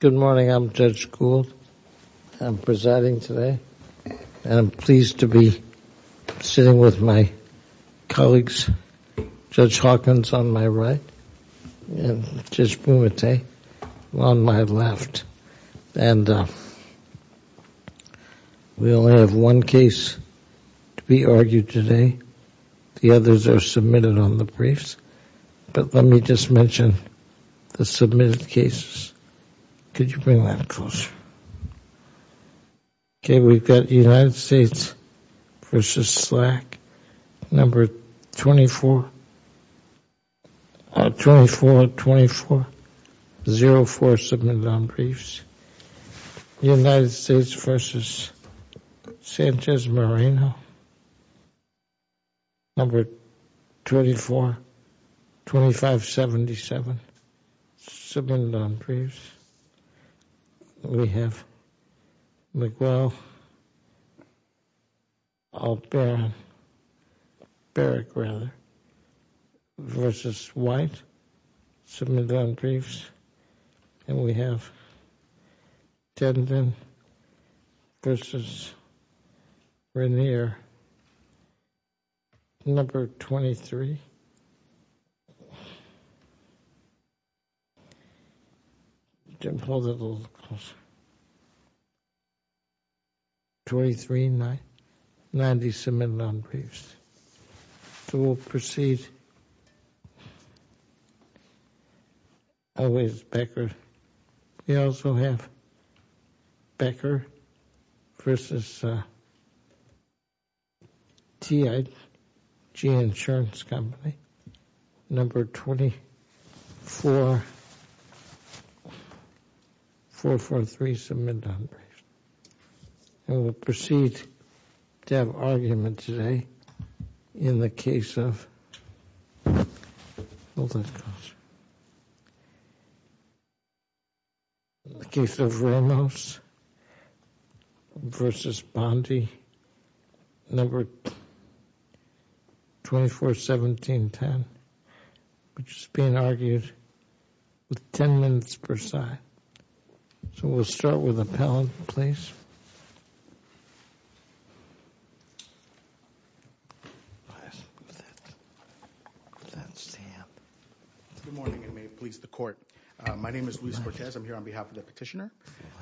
Good morning. I'm Judge Gould. I'm presiding today, and I'm pleased to be sitting with my colleagues, Judge Hawkins on my right and Judge Bumate on my left. We only have one case to be argued today. The others are submitted on the briefs, but let me just mention the submitted cases. Could you bring that closer? Okay, we've got United States v. Slack, number 23. Submitted on briefs. We have McGraw-Barrett v. White, submitted on briefs. And we have Jim, hold it a little closer. 2390, submitted on briefs. So we'll proceed, always Becker. We also have Becker v. T.I.G. Insurance Company, number 24443, submitted on briefs. And we'll proceed to have argument today in the case of, hold that closer, in the case of Ramos v. Bondi, number 241710, which is being argued with 10 minutes per side. So we'll start with Appellant, please. Good morning, and may it please the Court. My name is Luis Cortez. I'm here on behalf of the Petitioner.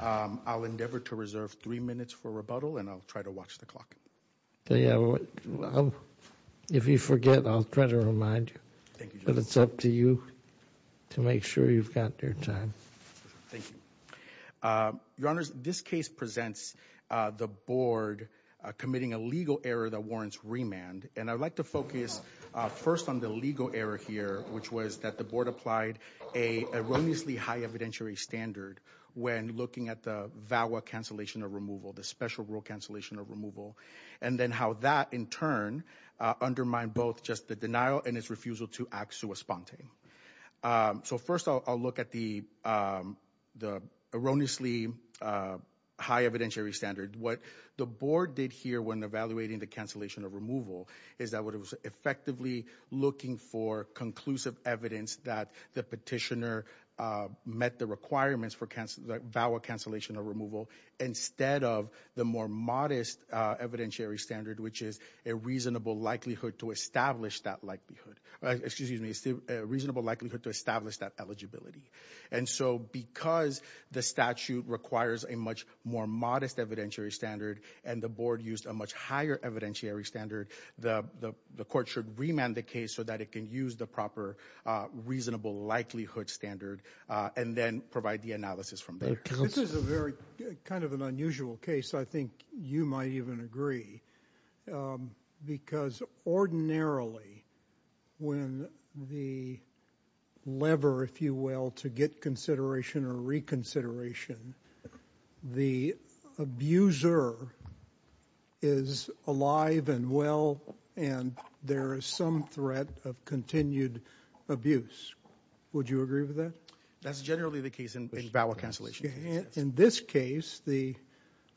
I'll endeavor to reserve three minutes for rebuttal, and I'll try to watch the clock. If you forget, I'll try to remind you, but it's up to you to make sure you've got your time. Thank you. Your Honors, this case presents the Board committing a legal error that warrants remand, and I'd like to focus first on the legal error here, which was that the Board applied a erroneously high evidentiary standard when looking at the VAWA cancellation or removal, the special rule cancellation or removal, and then how that, in turn, undermined both just the denial and its refusal to act sui sponte. So first, I'll look at the erroneously high evidentiary standard. What the Board did here when evaluating the cancellation or removal is that it was effectively looking for conclusive evidence that the Petitioner met the requirements for VAWA cancellation or removal instead of the more modest evidentiary standard, which is a reasonable likelihood to establish that likelihood, excuse me, a reasonable likelihood to establish that eligibility. And so because the statute requires a much more modest evidentiary standard and the Board used a much higher evidentiary standard, the Court should remand the case so that it can use the proper reasonable likelihood standard and then provide the analysis from there. This is a very kind of an unusual case, I think you might even agree, because ordinarily when the lever, if you will, to get consideration or reconsideration, the abuser is alive and well and there is some threat of continued abuse. Would you agree with that? That's generally the case in VAWA cancellation. In this case, the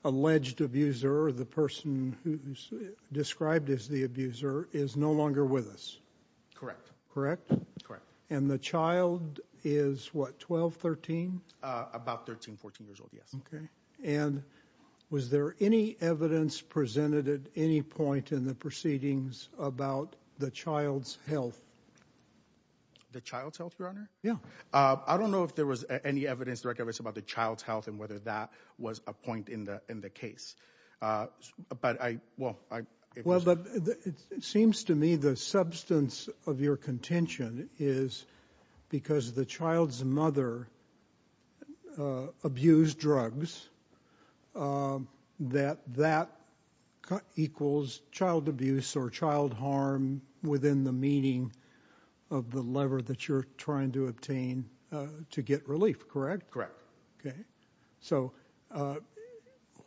alleged abuser, the person who's described as the abuser, is no longer with us. Correct. Correct? Correct. And the child is what, 12, 13? About 13, 14 years old, yes. Okay. And was there any evidence presented at any point in the proceedings about the child's health? The child's health, Your Honor? Yeah. I don't know if there was any evidence about the child's health and whether that was a point in the case. Well, it seems to me the substance of your contention is because the child's mother abused drugs, that that equals child abuse or child harm within the meaning of the lever that you're trying to obtain to get relief, correct? Correct. Okay. So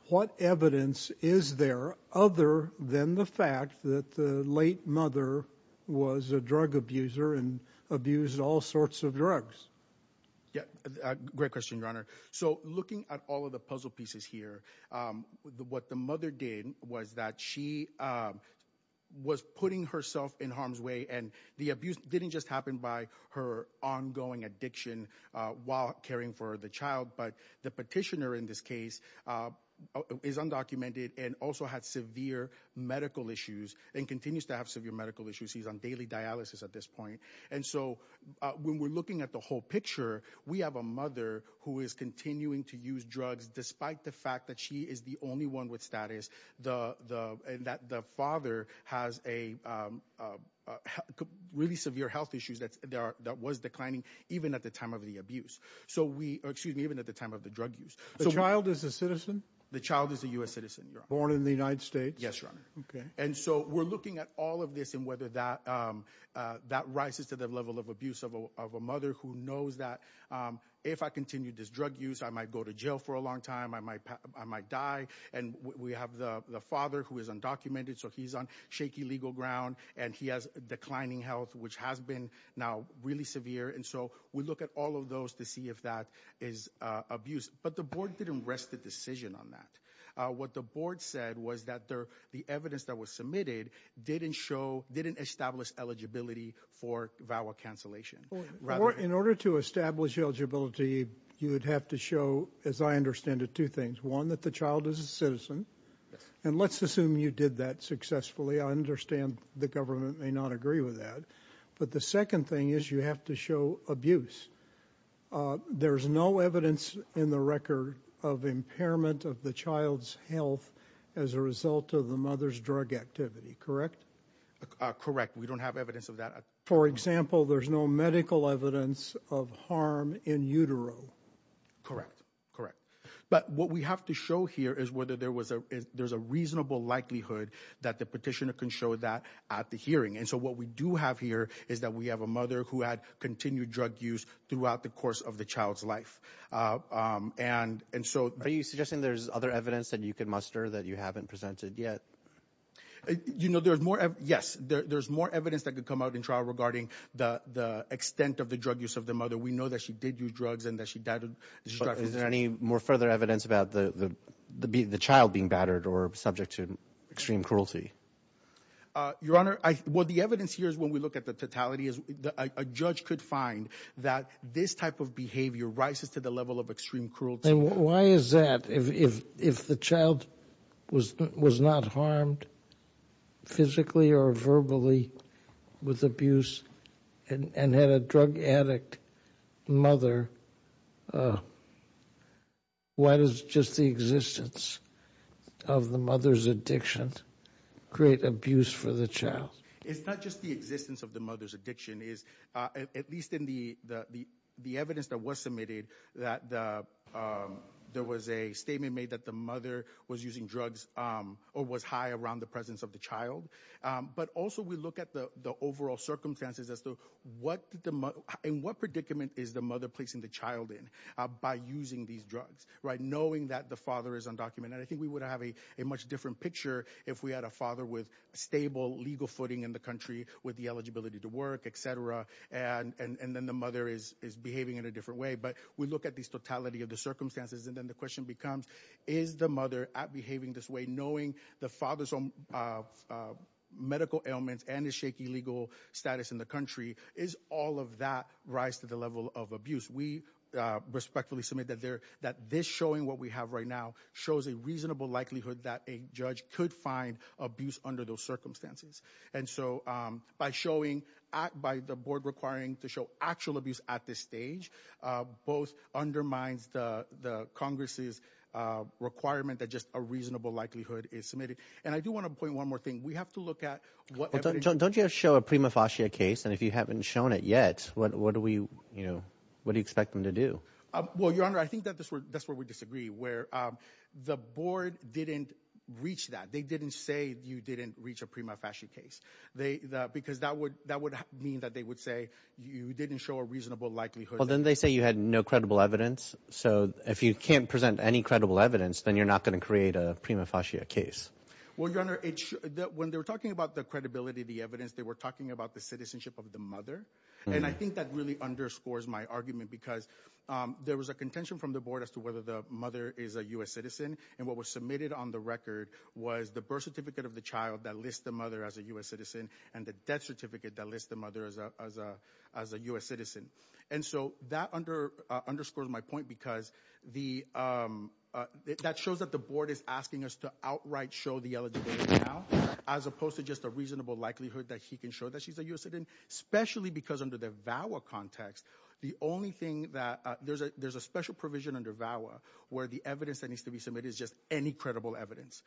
what evidence is there other than the fact that the late mother was a drug abuser and abused all sorts of drugs? Yeah. Great question, Your Honor. So looking at all of the puzzle pieces here, what the mother did was that she was putting herself in harm's way, and the abuse didn't just happen by her ongoing addiction while caring for the child, but the petitioner in this case is undocumented and also had severe medical issues and continues to have severe medical issues. He's on daily dialysis at this point. And so when we're looking at the whole picture, we have a mother who is continuing to use drugs despite the fact that she is the only one with status and that the father has really severe health issues that was declining even at the time of the abuse. So we, excuse me, even at the time of the drug use. The child is a citizen? The child is a U.S. citizen, Your Honor. Born in the United States? Yes, Your Honor. Okay. And so we're looking at all of this and whether that rises to the level of abuse of a mother who knows that if I continue this drug use, I might go to jail for a long time, I might die. And we have the father who is undocumented, so he's on shaky legal ground, and he has declining health, which has been now really severe. And so we look at all of those to see if that is abuse. But the board didn't rest the decision on that. What the board said was that the evidence that was submitted didn't show, didn't establish eligibility for VAWA cancellation. In order to establish eligibility, you would have to show, as I understand it, two things. One, that the child is a citizen. And let's assume you did that successfully. I understand the government may not agree with that. But the second thing is you have to show abuse. There's no evidence in the record of impairment of the child's health as a result of the mother's drug activity, correct? Correct. We don't have evidence of that. For example, there's no medical evidence of harm in utero. Correct. Correct. But what we have to show here is whether there's a reasonable likelihood that the petitioner can show that at the hearing. And so what we do have here is that we have a mother who had continued drug use throughout the course of the child's life. And so— Are you suggesting there's other evidence that you can muster that you haven't presented yet? You know, there's more—yes. There's more evidence that could come out in trial regarding the extent of the drug use of the mother. We know that she did use drugs and that she died of— Is there any more further evidence about the child being battered or subject to extreme cruelty? Your Honor, what the evidence here is when we look at the totality is a judge could find that this type of behavior rises to the level of extreme cruelty. Why is that? If the child was not harmed physically or verbally with abuse and had a drug addict mother, why does just the existence of the mother's addiction create abuse for the child? It's not just the existence of the mother's addiction. At least in the evidence that was submitted, there was a statement made that the mother was using drugs or was high around the presence of the child. But also we look at the overall circumstances as to what predicament is the mother placing the child in by using these drugs, knowing that the father is undocumented. And I think we would have a much different picture if we had a father with stable legal footing in the country with the eligibility to work, etc. And then the mother is behaving in a different way. But we look at this totality of the circumstances and then the question becomes, is the mother behaving this way knowing the father's own medical ailments and his shaky legal status in the country? Is all of that rise to the level of abuse? We respectfully submit that this showing what we have right now shows a reasonable likelihood that a judge could find abuse under those circumstances. And so by showing, by the board requiring to show actual abuse at this stage, both undermines the Congress's requirement that just a reasonable likelihood is submitted. And I do want to point one more thing. Don't you have to show a prima facie case? And if you haven't shown it yet, what do you expect them to do? Well, Your Honor, I think that's where we disagree, where the board didn't reach that. They didn't say you didn't reach a prima facie case because that would mean that they would say you didn't show a reasonable likelihood. Well, then they say you had no credible evidence. So if you can't present any credible evidence, then you're not going to create a prima facie case. Well, Your Honor, when they were talking about the credibility of the evidence, they were talking about the citizenship of the mother. And I think that really underscores my argument because there was a contention from the board as to whether the mother is a U.S. citizen. And what was submitted on the record was the birth certificate of the child that lists the mother as a U.S. citizen and the death certificate that lists the mother as a U.S. citizen. And so that underscores my point because that shows that the board is asking us to outright show the eligibility now, as opposed to just a reasonable likelihood that he can show that she's a U.S. citizen, especially because under the VAWA context, there's a special provision under VAWA where the evidence that needs to be submitted is just any credible evidence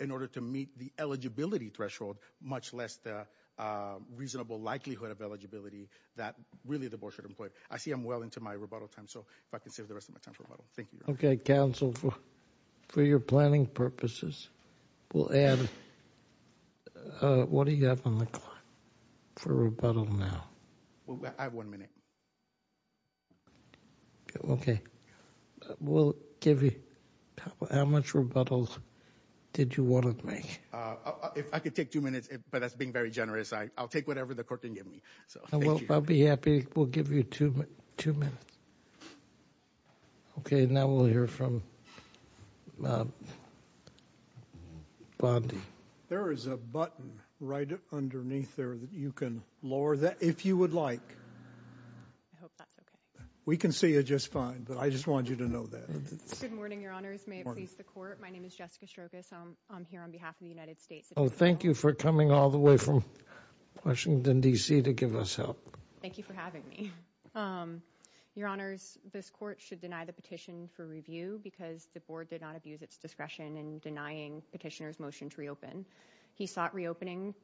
in order to meet the eligibility threshold, much less the reasonable likelihood of eligibility that really the board should employ. I see I'm well into my rebuttal time, so if I can save the rest of my time for rebuttal. Thank you, Your Honor. Okay, counsel, for your planning purposes, we'll add. What do you have on the clock for rebuttal now? I have one minute. Okay. We'll give you how much rebuttals did you want to make? If I could take two minutes, but that's being very generous. I'll take whatever the court didn't give me. I'll be happy. We'll give you two minutes. Okay. Now we'll hear from Bondi. There is a button right underneath there that you can lower that if you would like. I hope that's okay. We can see you just fine, but I just want you to know that. Good morning, Your Honors. May it please the court. My name is Jessica Strogas. I'm here on behalf of the United States. Thank you for coming all the way from Washington, D.C. to give us help. Thank you for having me. Your Honors, this court should deny the petition for review because the board did not abuse its discretion in denying petitioner's motion to reopen. He sought reopening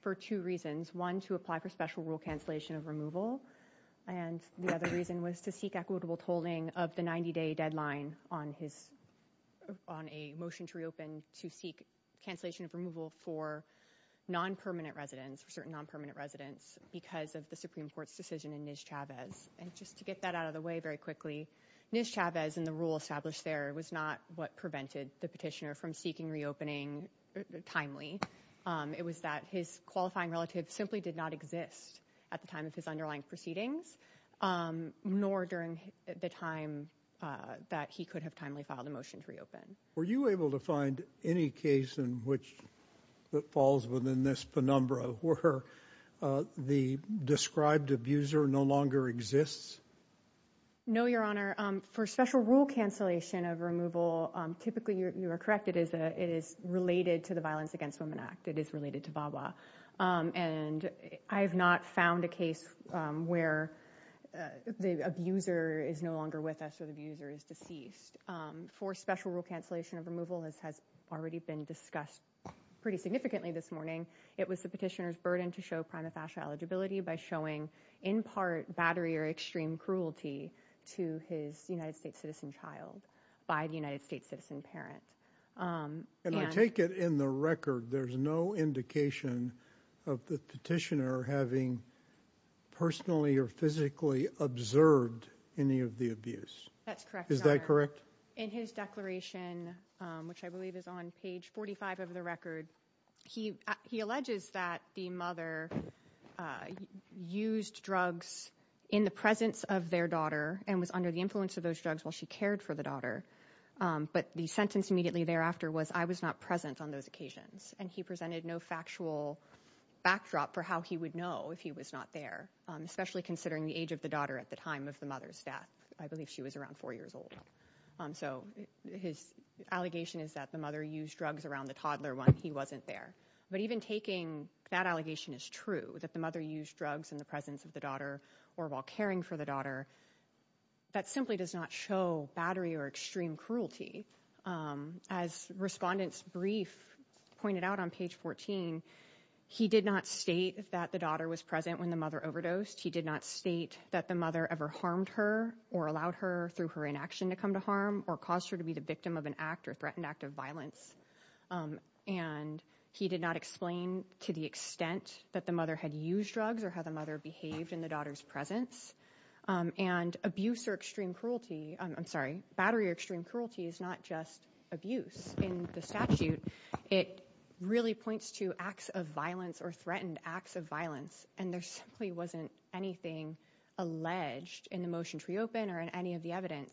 for two reasons. One, to apply for special rule cancellation of removal, and the other reason was to seek equitable tolling of the 90-day deadline on a motion to reopen to seek cancellation of removal for non-permanent residents, for certain non-permanent residents, because of the Supreme Court's decision in Nischavez. And just to get that out of the way very quickly, Nischavez and the rule established there was not what prevented the petitioner from seeking reopening timely. It was that his qualifying relative simply did not exist at the time of his underlying proceedings, nor during the time that he could have timely filed a motion to reopen. Were you able to find any case in which it falls within this penumbra, where the described abuser no longer exists? No, Your Honor. For special rule cancellation of removal, typically you are correct, it is related to the Violence Against Women Act. It is related to VAWA. And I have not found a case where the abuser is no longer with us or the abuser is deceased. For special rule cancellation of removal, as has already been discussed pretty significantly this morning, it was the petitioner's burden to show prima facie eligibility by showing in part battery or extreme cruelty to his United States citizen child by the United States citizen parent. And I take it in the record there's no indication of the petitioner having personally or physically observed any of the abuse. That's correct, Your Honor. In his declaration, which I believe is on page 45 of the record, he alleges that the mother used drugs in the presence of their daughter and was under the influence of those drugs while she cared for the daughter. But the sentence immediately thereafter was, I was not present on those occasions. And he presented no factual backdrop for how he would know if he was not there, especially considering the age of the daughter at the time of the mother's death. I believe she was around four years old. So his allegation is that the mother used drugs around the toddler when he wasn't there. But even taking that allegation as true, that the mother used drugs in the presence of the daughter or while caring for the daughter, that simply does not show battery or extreme cruelty. As respondent's brief pointed out on page 14, he did not state that the daughter was present when the mother overdosed. He did not state that the mother ever harmed her or allowed her through her inaction to come to harm or caused her to be the victim of an act or threatened act of violence. And he did not explain to the extent that the mother had used drugs or how the mother behaved in the daughter's presence. And battery or extreme cruelty is not just abuse. In the statute, it really points to acts of violence or threatened acts of violence. And there simply wasn't anything alleged in the motion to reopen or in any of the evidence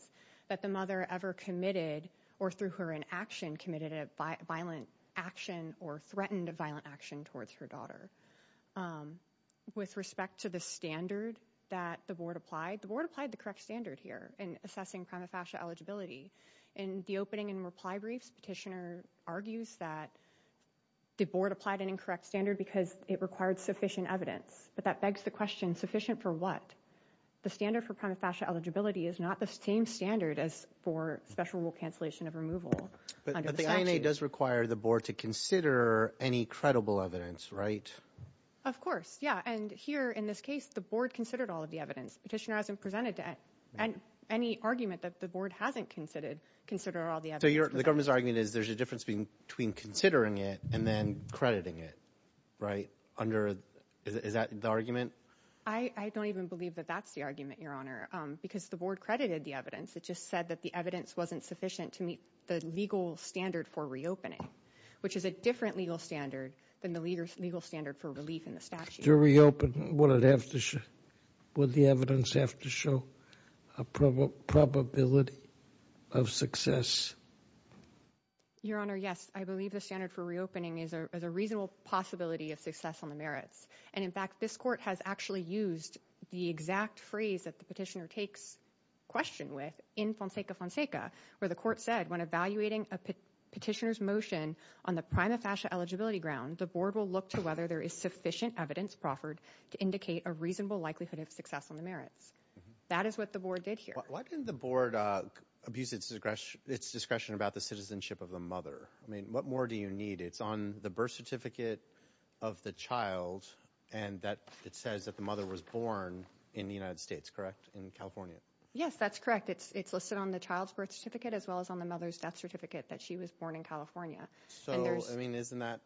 that the mother ever committed or through her inaction committed a violent action or threatened a violent action towards her daughter. With respect to the standard that the board applied, the board applied the correct standard here in assessing prima facie eligibility. In the opening and reply briefs, petitioner argues that the board applied an incorrect standard because it required sufficient evidence. But that begs the question, sufficient for what? The standard for prima facie eligibility is not the same standard as for special rule cancellation of removal under the statute. But the INA does require the board to consider any credible evidence, right? Of course, yeah. And here in this case, the board considered all of the evidence. Petitioner hasn't presented any argument that the board hasn't considered all the evidence. So the government's argument is there's a difference between considering it and then crediting it, right? Is that the argument? I don't even believe that that's the argument, Your Honor, because the board credited the evidence. It just said that the evidence wasn't sufficient to meet the legal standard for reopening, which is a different legal standard than the legal standard for relief in the statute. To reopen, would the evidence have to show a probability of success? Your Honor, yes. I believe the standard for reopening is a reasonable possibility of success on the merits. And, in fact, this court has actually used the exact phrase that the petitioner takes question with in Fonseca Fonseca, where the court said, when evaluating a petitioner's motion on the prima facie eligibility ground, the board will look to whether there is sufficient evidence proffered to indicate a reasonable likelihood of success on the merits. That is what the board did here. Why didn't the board abuse its discretion about the citizenship of the mother? I mean, what more do you need? It's on the birth certificate of the child, and it says that the mother was born in the United States, correct, in California? Yes, that's correct. It's listed on the child's birth certificate as well as on the mother's death certificate that she was born in California. So, I mean, isn't that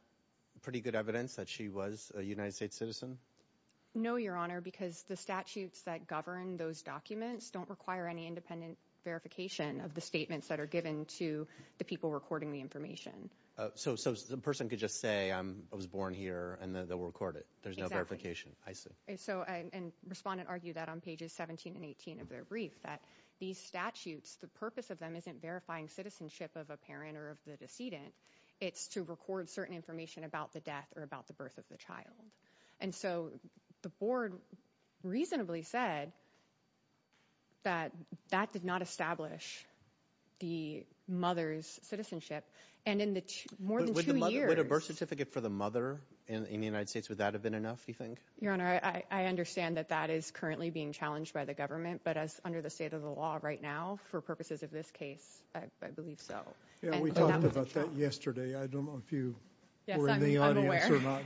pretty good evidence that she was a United States citizen? No, Your Honor, because the statutes that govern those documents don't require any independent verification of the statements that are given to the people recording the information. So the person could just say, I was born here, and then they'll record it. There's no verification. I see. And respondents argue that on pages 17 and 18 of their brief, that these statutes, the purpose of them isn't verifying citizenship of a parent or of the decedent. It's to record certain information about the death or about the birth of the child. And so the board reasonably said that that did not establish the mother's citizenship. And in more than two years— Would a birth certificate for the mother in the United States, would that have been enough, do you think? Your Honor, I understand that that is currently being challenged by the government, but as under the state of the law right now, for purposes of this case, I believe so. We talked about that yesterday. I don't know if you were in the audience or not.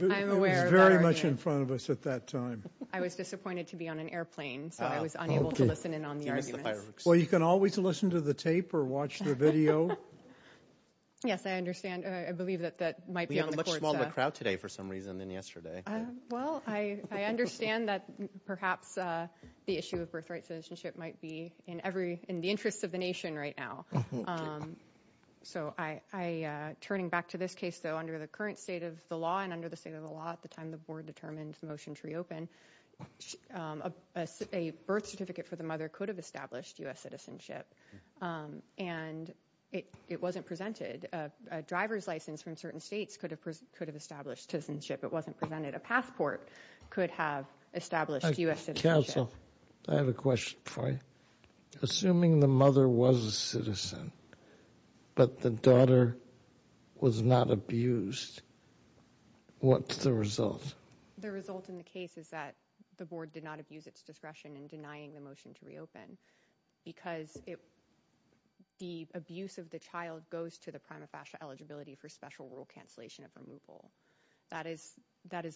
I'm aware. It was very much in front of us at that time. I was disappointed to be on an airplane, so I was unable to listen in on the arguments. Well, you can always listen to the tape or watch the video. Yes, I understand. I believe that that might be on the courts. We have a much smaller crowd today for some reason than yesterday. Well, I understand that perhaps the issue of birthright citizenship might be in the interests of the nation right now. So, turning back to this case, though, under the current state of the law and under the state of the law at the time the board determined the motion to reopen, a birth certificate for the mother could have established U.S. citizenship, and it wasn't presented. A driver's license from certain states could have established citizenship. It wasn't presented. A passport could have established U.S. citizenship. Counsel, I have a question for you. Assuming the mother was a citizen but the daughter was not abused, what's the result? The result in the case is that the board did not abuse its discretion in denying the motion to reopen because the abuse of the child goes to the prima facie eligibility for special rule cancellation of removal. That is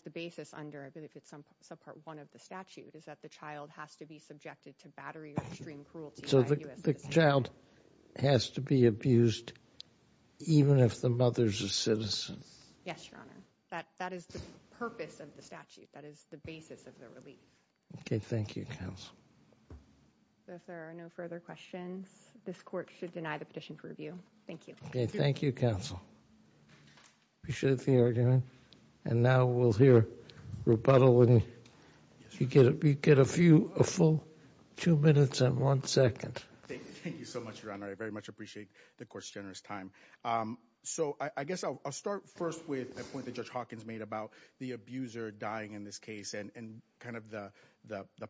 the basis under, I believe it's subpart one of the statute, is that the child has to be subjected to battery or extreme cruelty by U.S. citizens. So the child has to be abused even if the mother's a citizen? Yes, Your Honor. That is the purpose of the statute. That is the basis of the relief. Okay. Thank you, Counsel. If there are no further questions, this court should deny the petition for review. Thank you. Okay. Thank you, Counsel. Appreciate the argument. And now we'll hear rebuttal. You get a full two minutes and one second. Thank you so much, Your Honor. I very much appreciate the court's generous time. So I guess I'll start first with a point that Judge Hawkins made about the abuser dying in this case and kind of the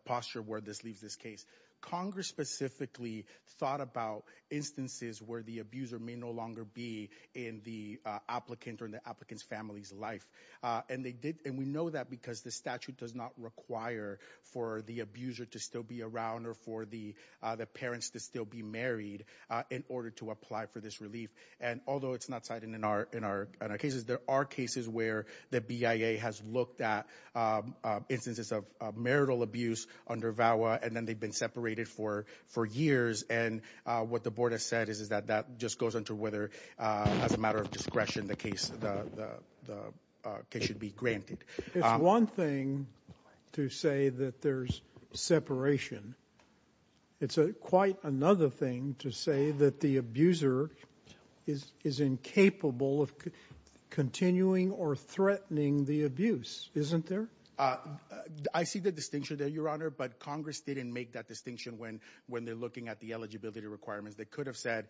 posture where this leaves this case. Congress specifically thought about instances where the abuser may no longer be in the applicant or in the applicant's family's life. And we know that because the statute does not require for the abuser to still be around or for the parents to still be married in order to apply for this relief. And although it's not cited in our cases, there are cases where the BIA has looked at instances of marital abuse under VAWA, and then they've been separated for years. And what the board has said is that that just goes into whether, as a matter of discretion, the case should be granted. It's one thing to say that there's separation. It's quite another thing to say that the abuser is incapable of continuing or threatening the abuse, isn't there? I see the distinction there, Your Honor, but Congress didn't make that distinction when they're looking at the eligibility requirements. They could have said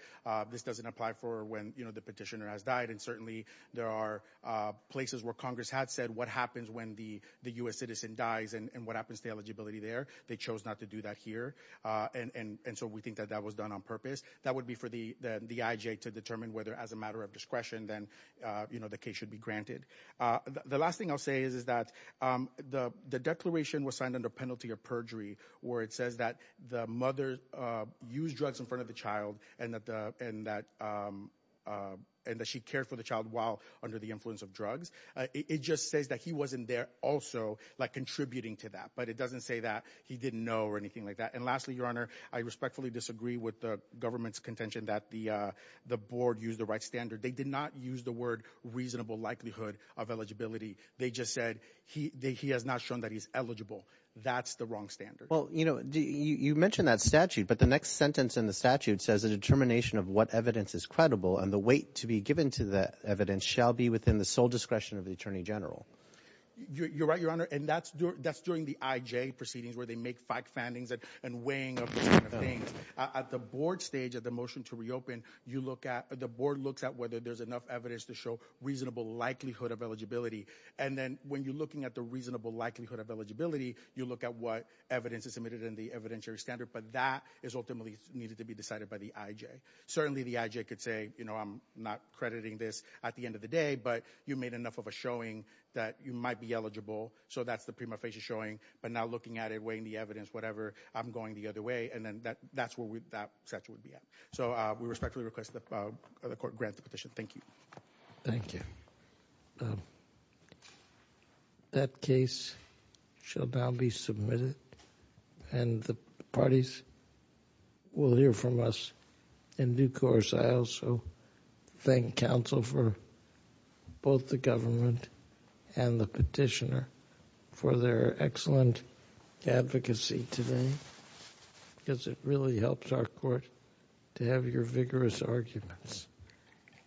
this doesn't apply for when the petitioner has died, and certainly there are places where Congress had said what happens when the U.S. citizen dies and what happens to the eligibility there. They chose not to do that here, and so we think that that was done on purpose. That would be for the IJ to determine whether, as a matter of discretion, then the case should be granted. The last thing I'll say is that the declaration was signed under penalty of perjury where it says that the mother used drugs in front of the child and that she cared for the child while under the influence of drugs. It just says that he wasn't there also contributing to that, but it doesn't say that he didn't know or anything like that. And lastly, Your Honor, I respectfully disagree with the government's contention that the board used the right standard. They did not use the word reasonable likelihood of eligibility. They just said he has not shown that he's eligible. That's the wrong standard. Well, you know, you mentioned that statute, but the next sentence in the statute says the determination of what evidence is credible and the weight to be given to that evidence shall be within the sole discretion of the Attorney General. You're right, Your Honor, and that's during the IJ proceedings where they make fact findings and weighing of those kind of things. At the board stage of the motion to reopen, the board looks at whether there's enough evidence to show reasonable likelihood of eligibility, and then when you're looking at the reasonable likelihood of eligibility, you look at what evidence is submitted in the evidentiary standard, but that is ultimately needed to be decided by the IJ. Certainly, the IJ could say, you know, I'm not crediting this at the end of the day, but you made enough of a showing that you might be eligible, so that's the prima facie showing, but now looking at it, weighing the evidence, whatever, I'm going the other way, and then that's where that statute would be at. So we respectfully request that the court grant the petition. Thank you. Thank you. That case shall now be submitted, and the parties will hear from us in due course. I also thank counsel for both the government and the petitioner for their excellent advocacy today, because it really helps our court to have your vigorous arguments. Thank you.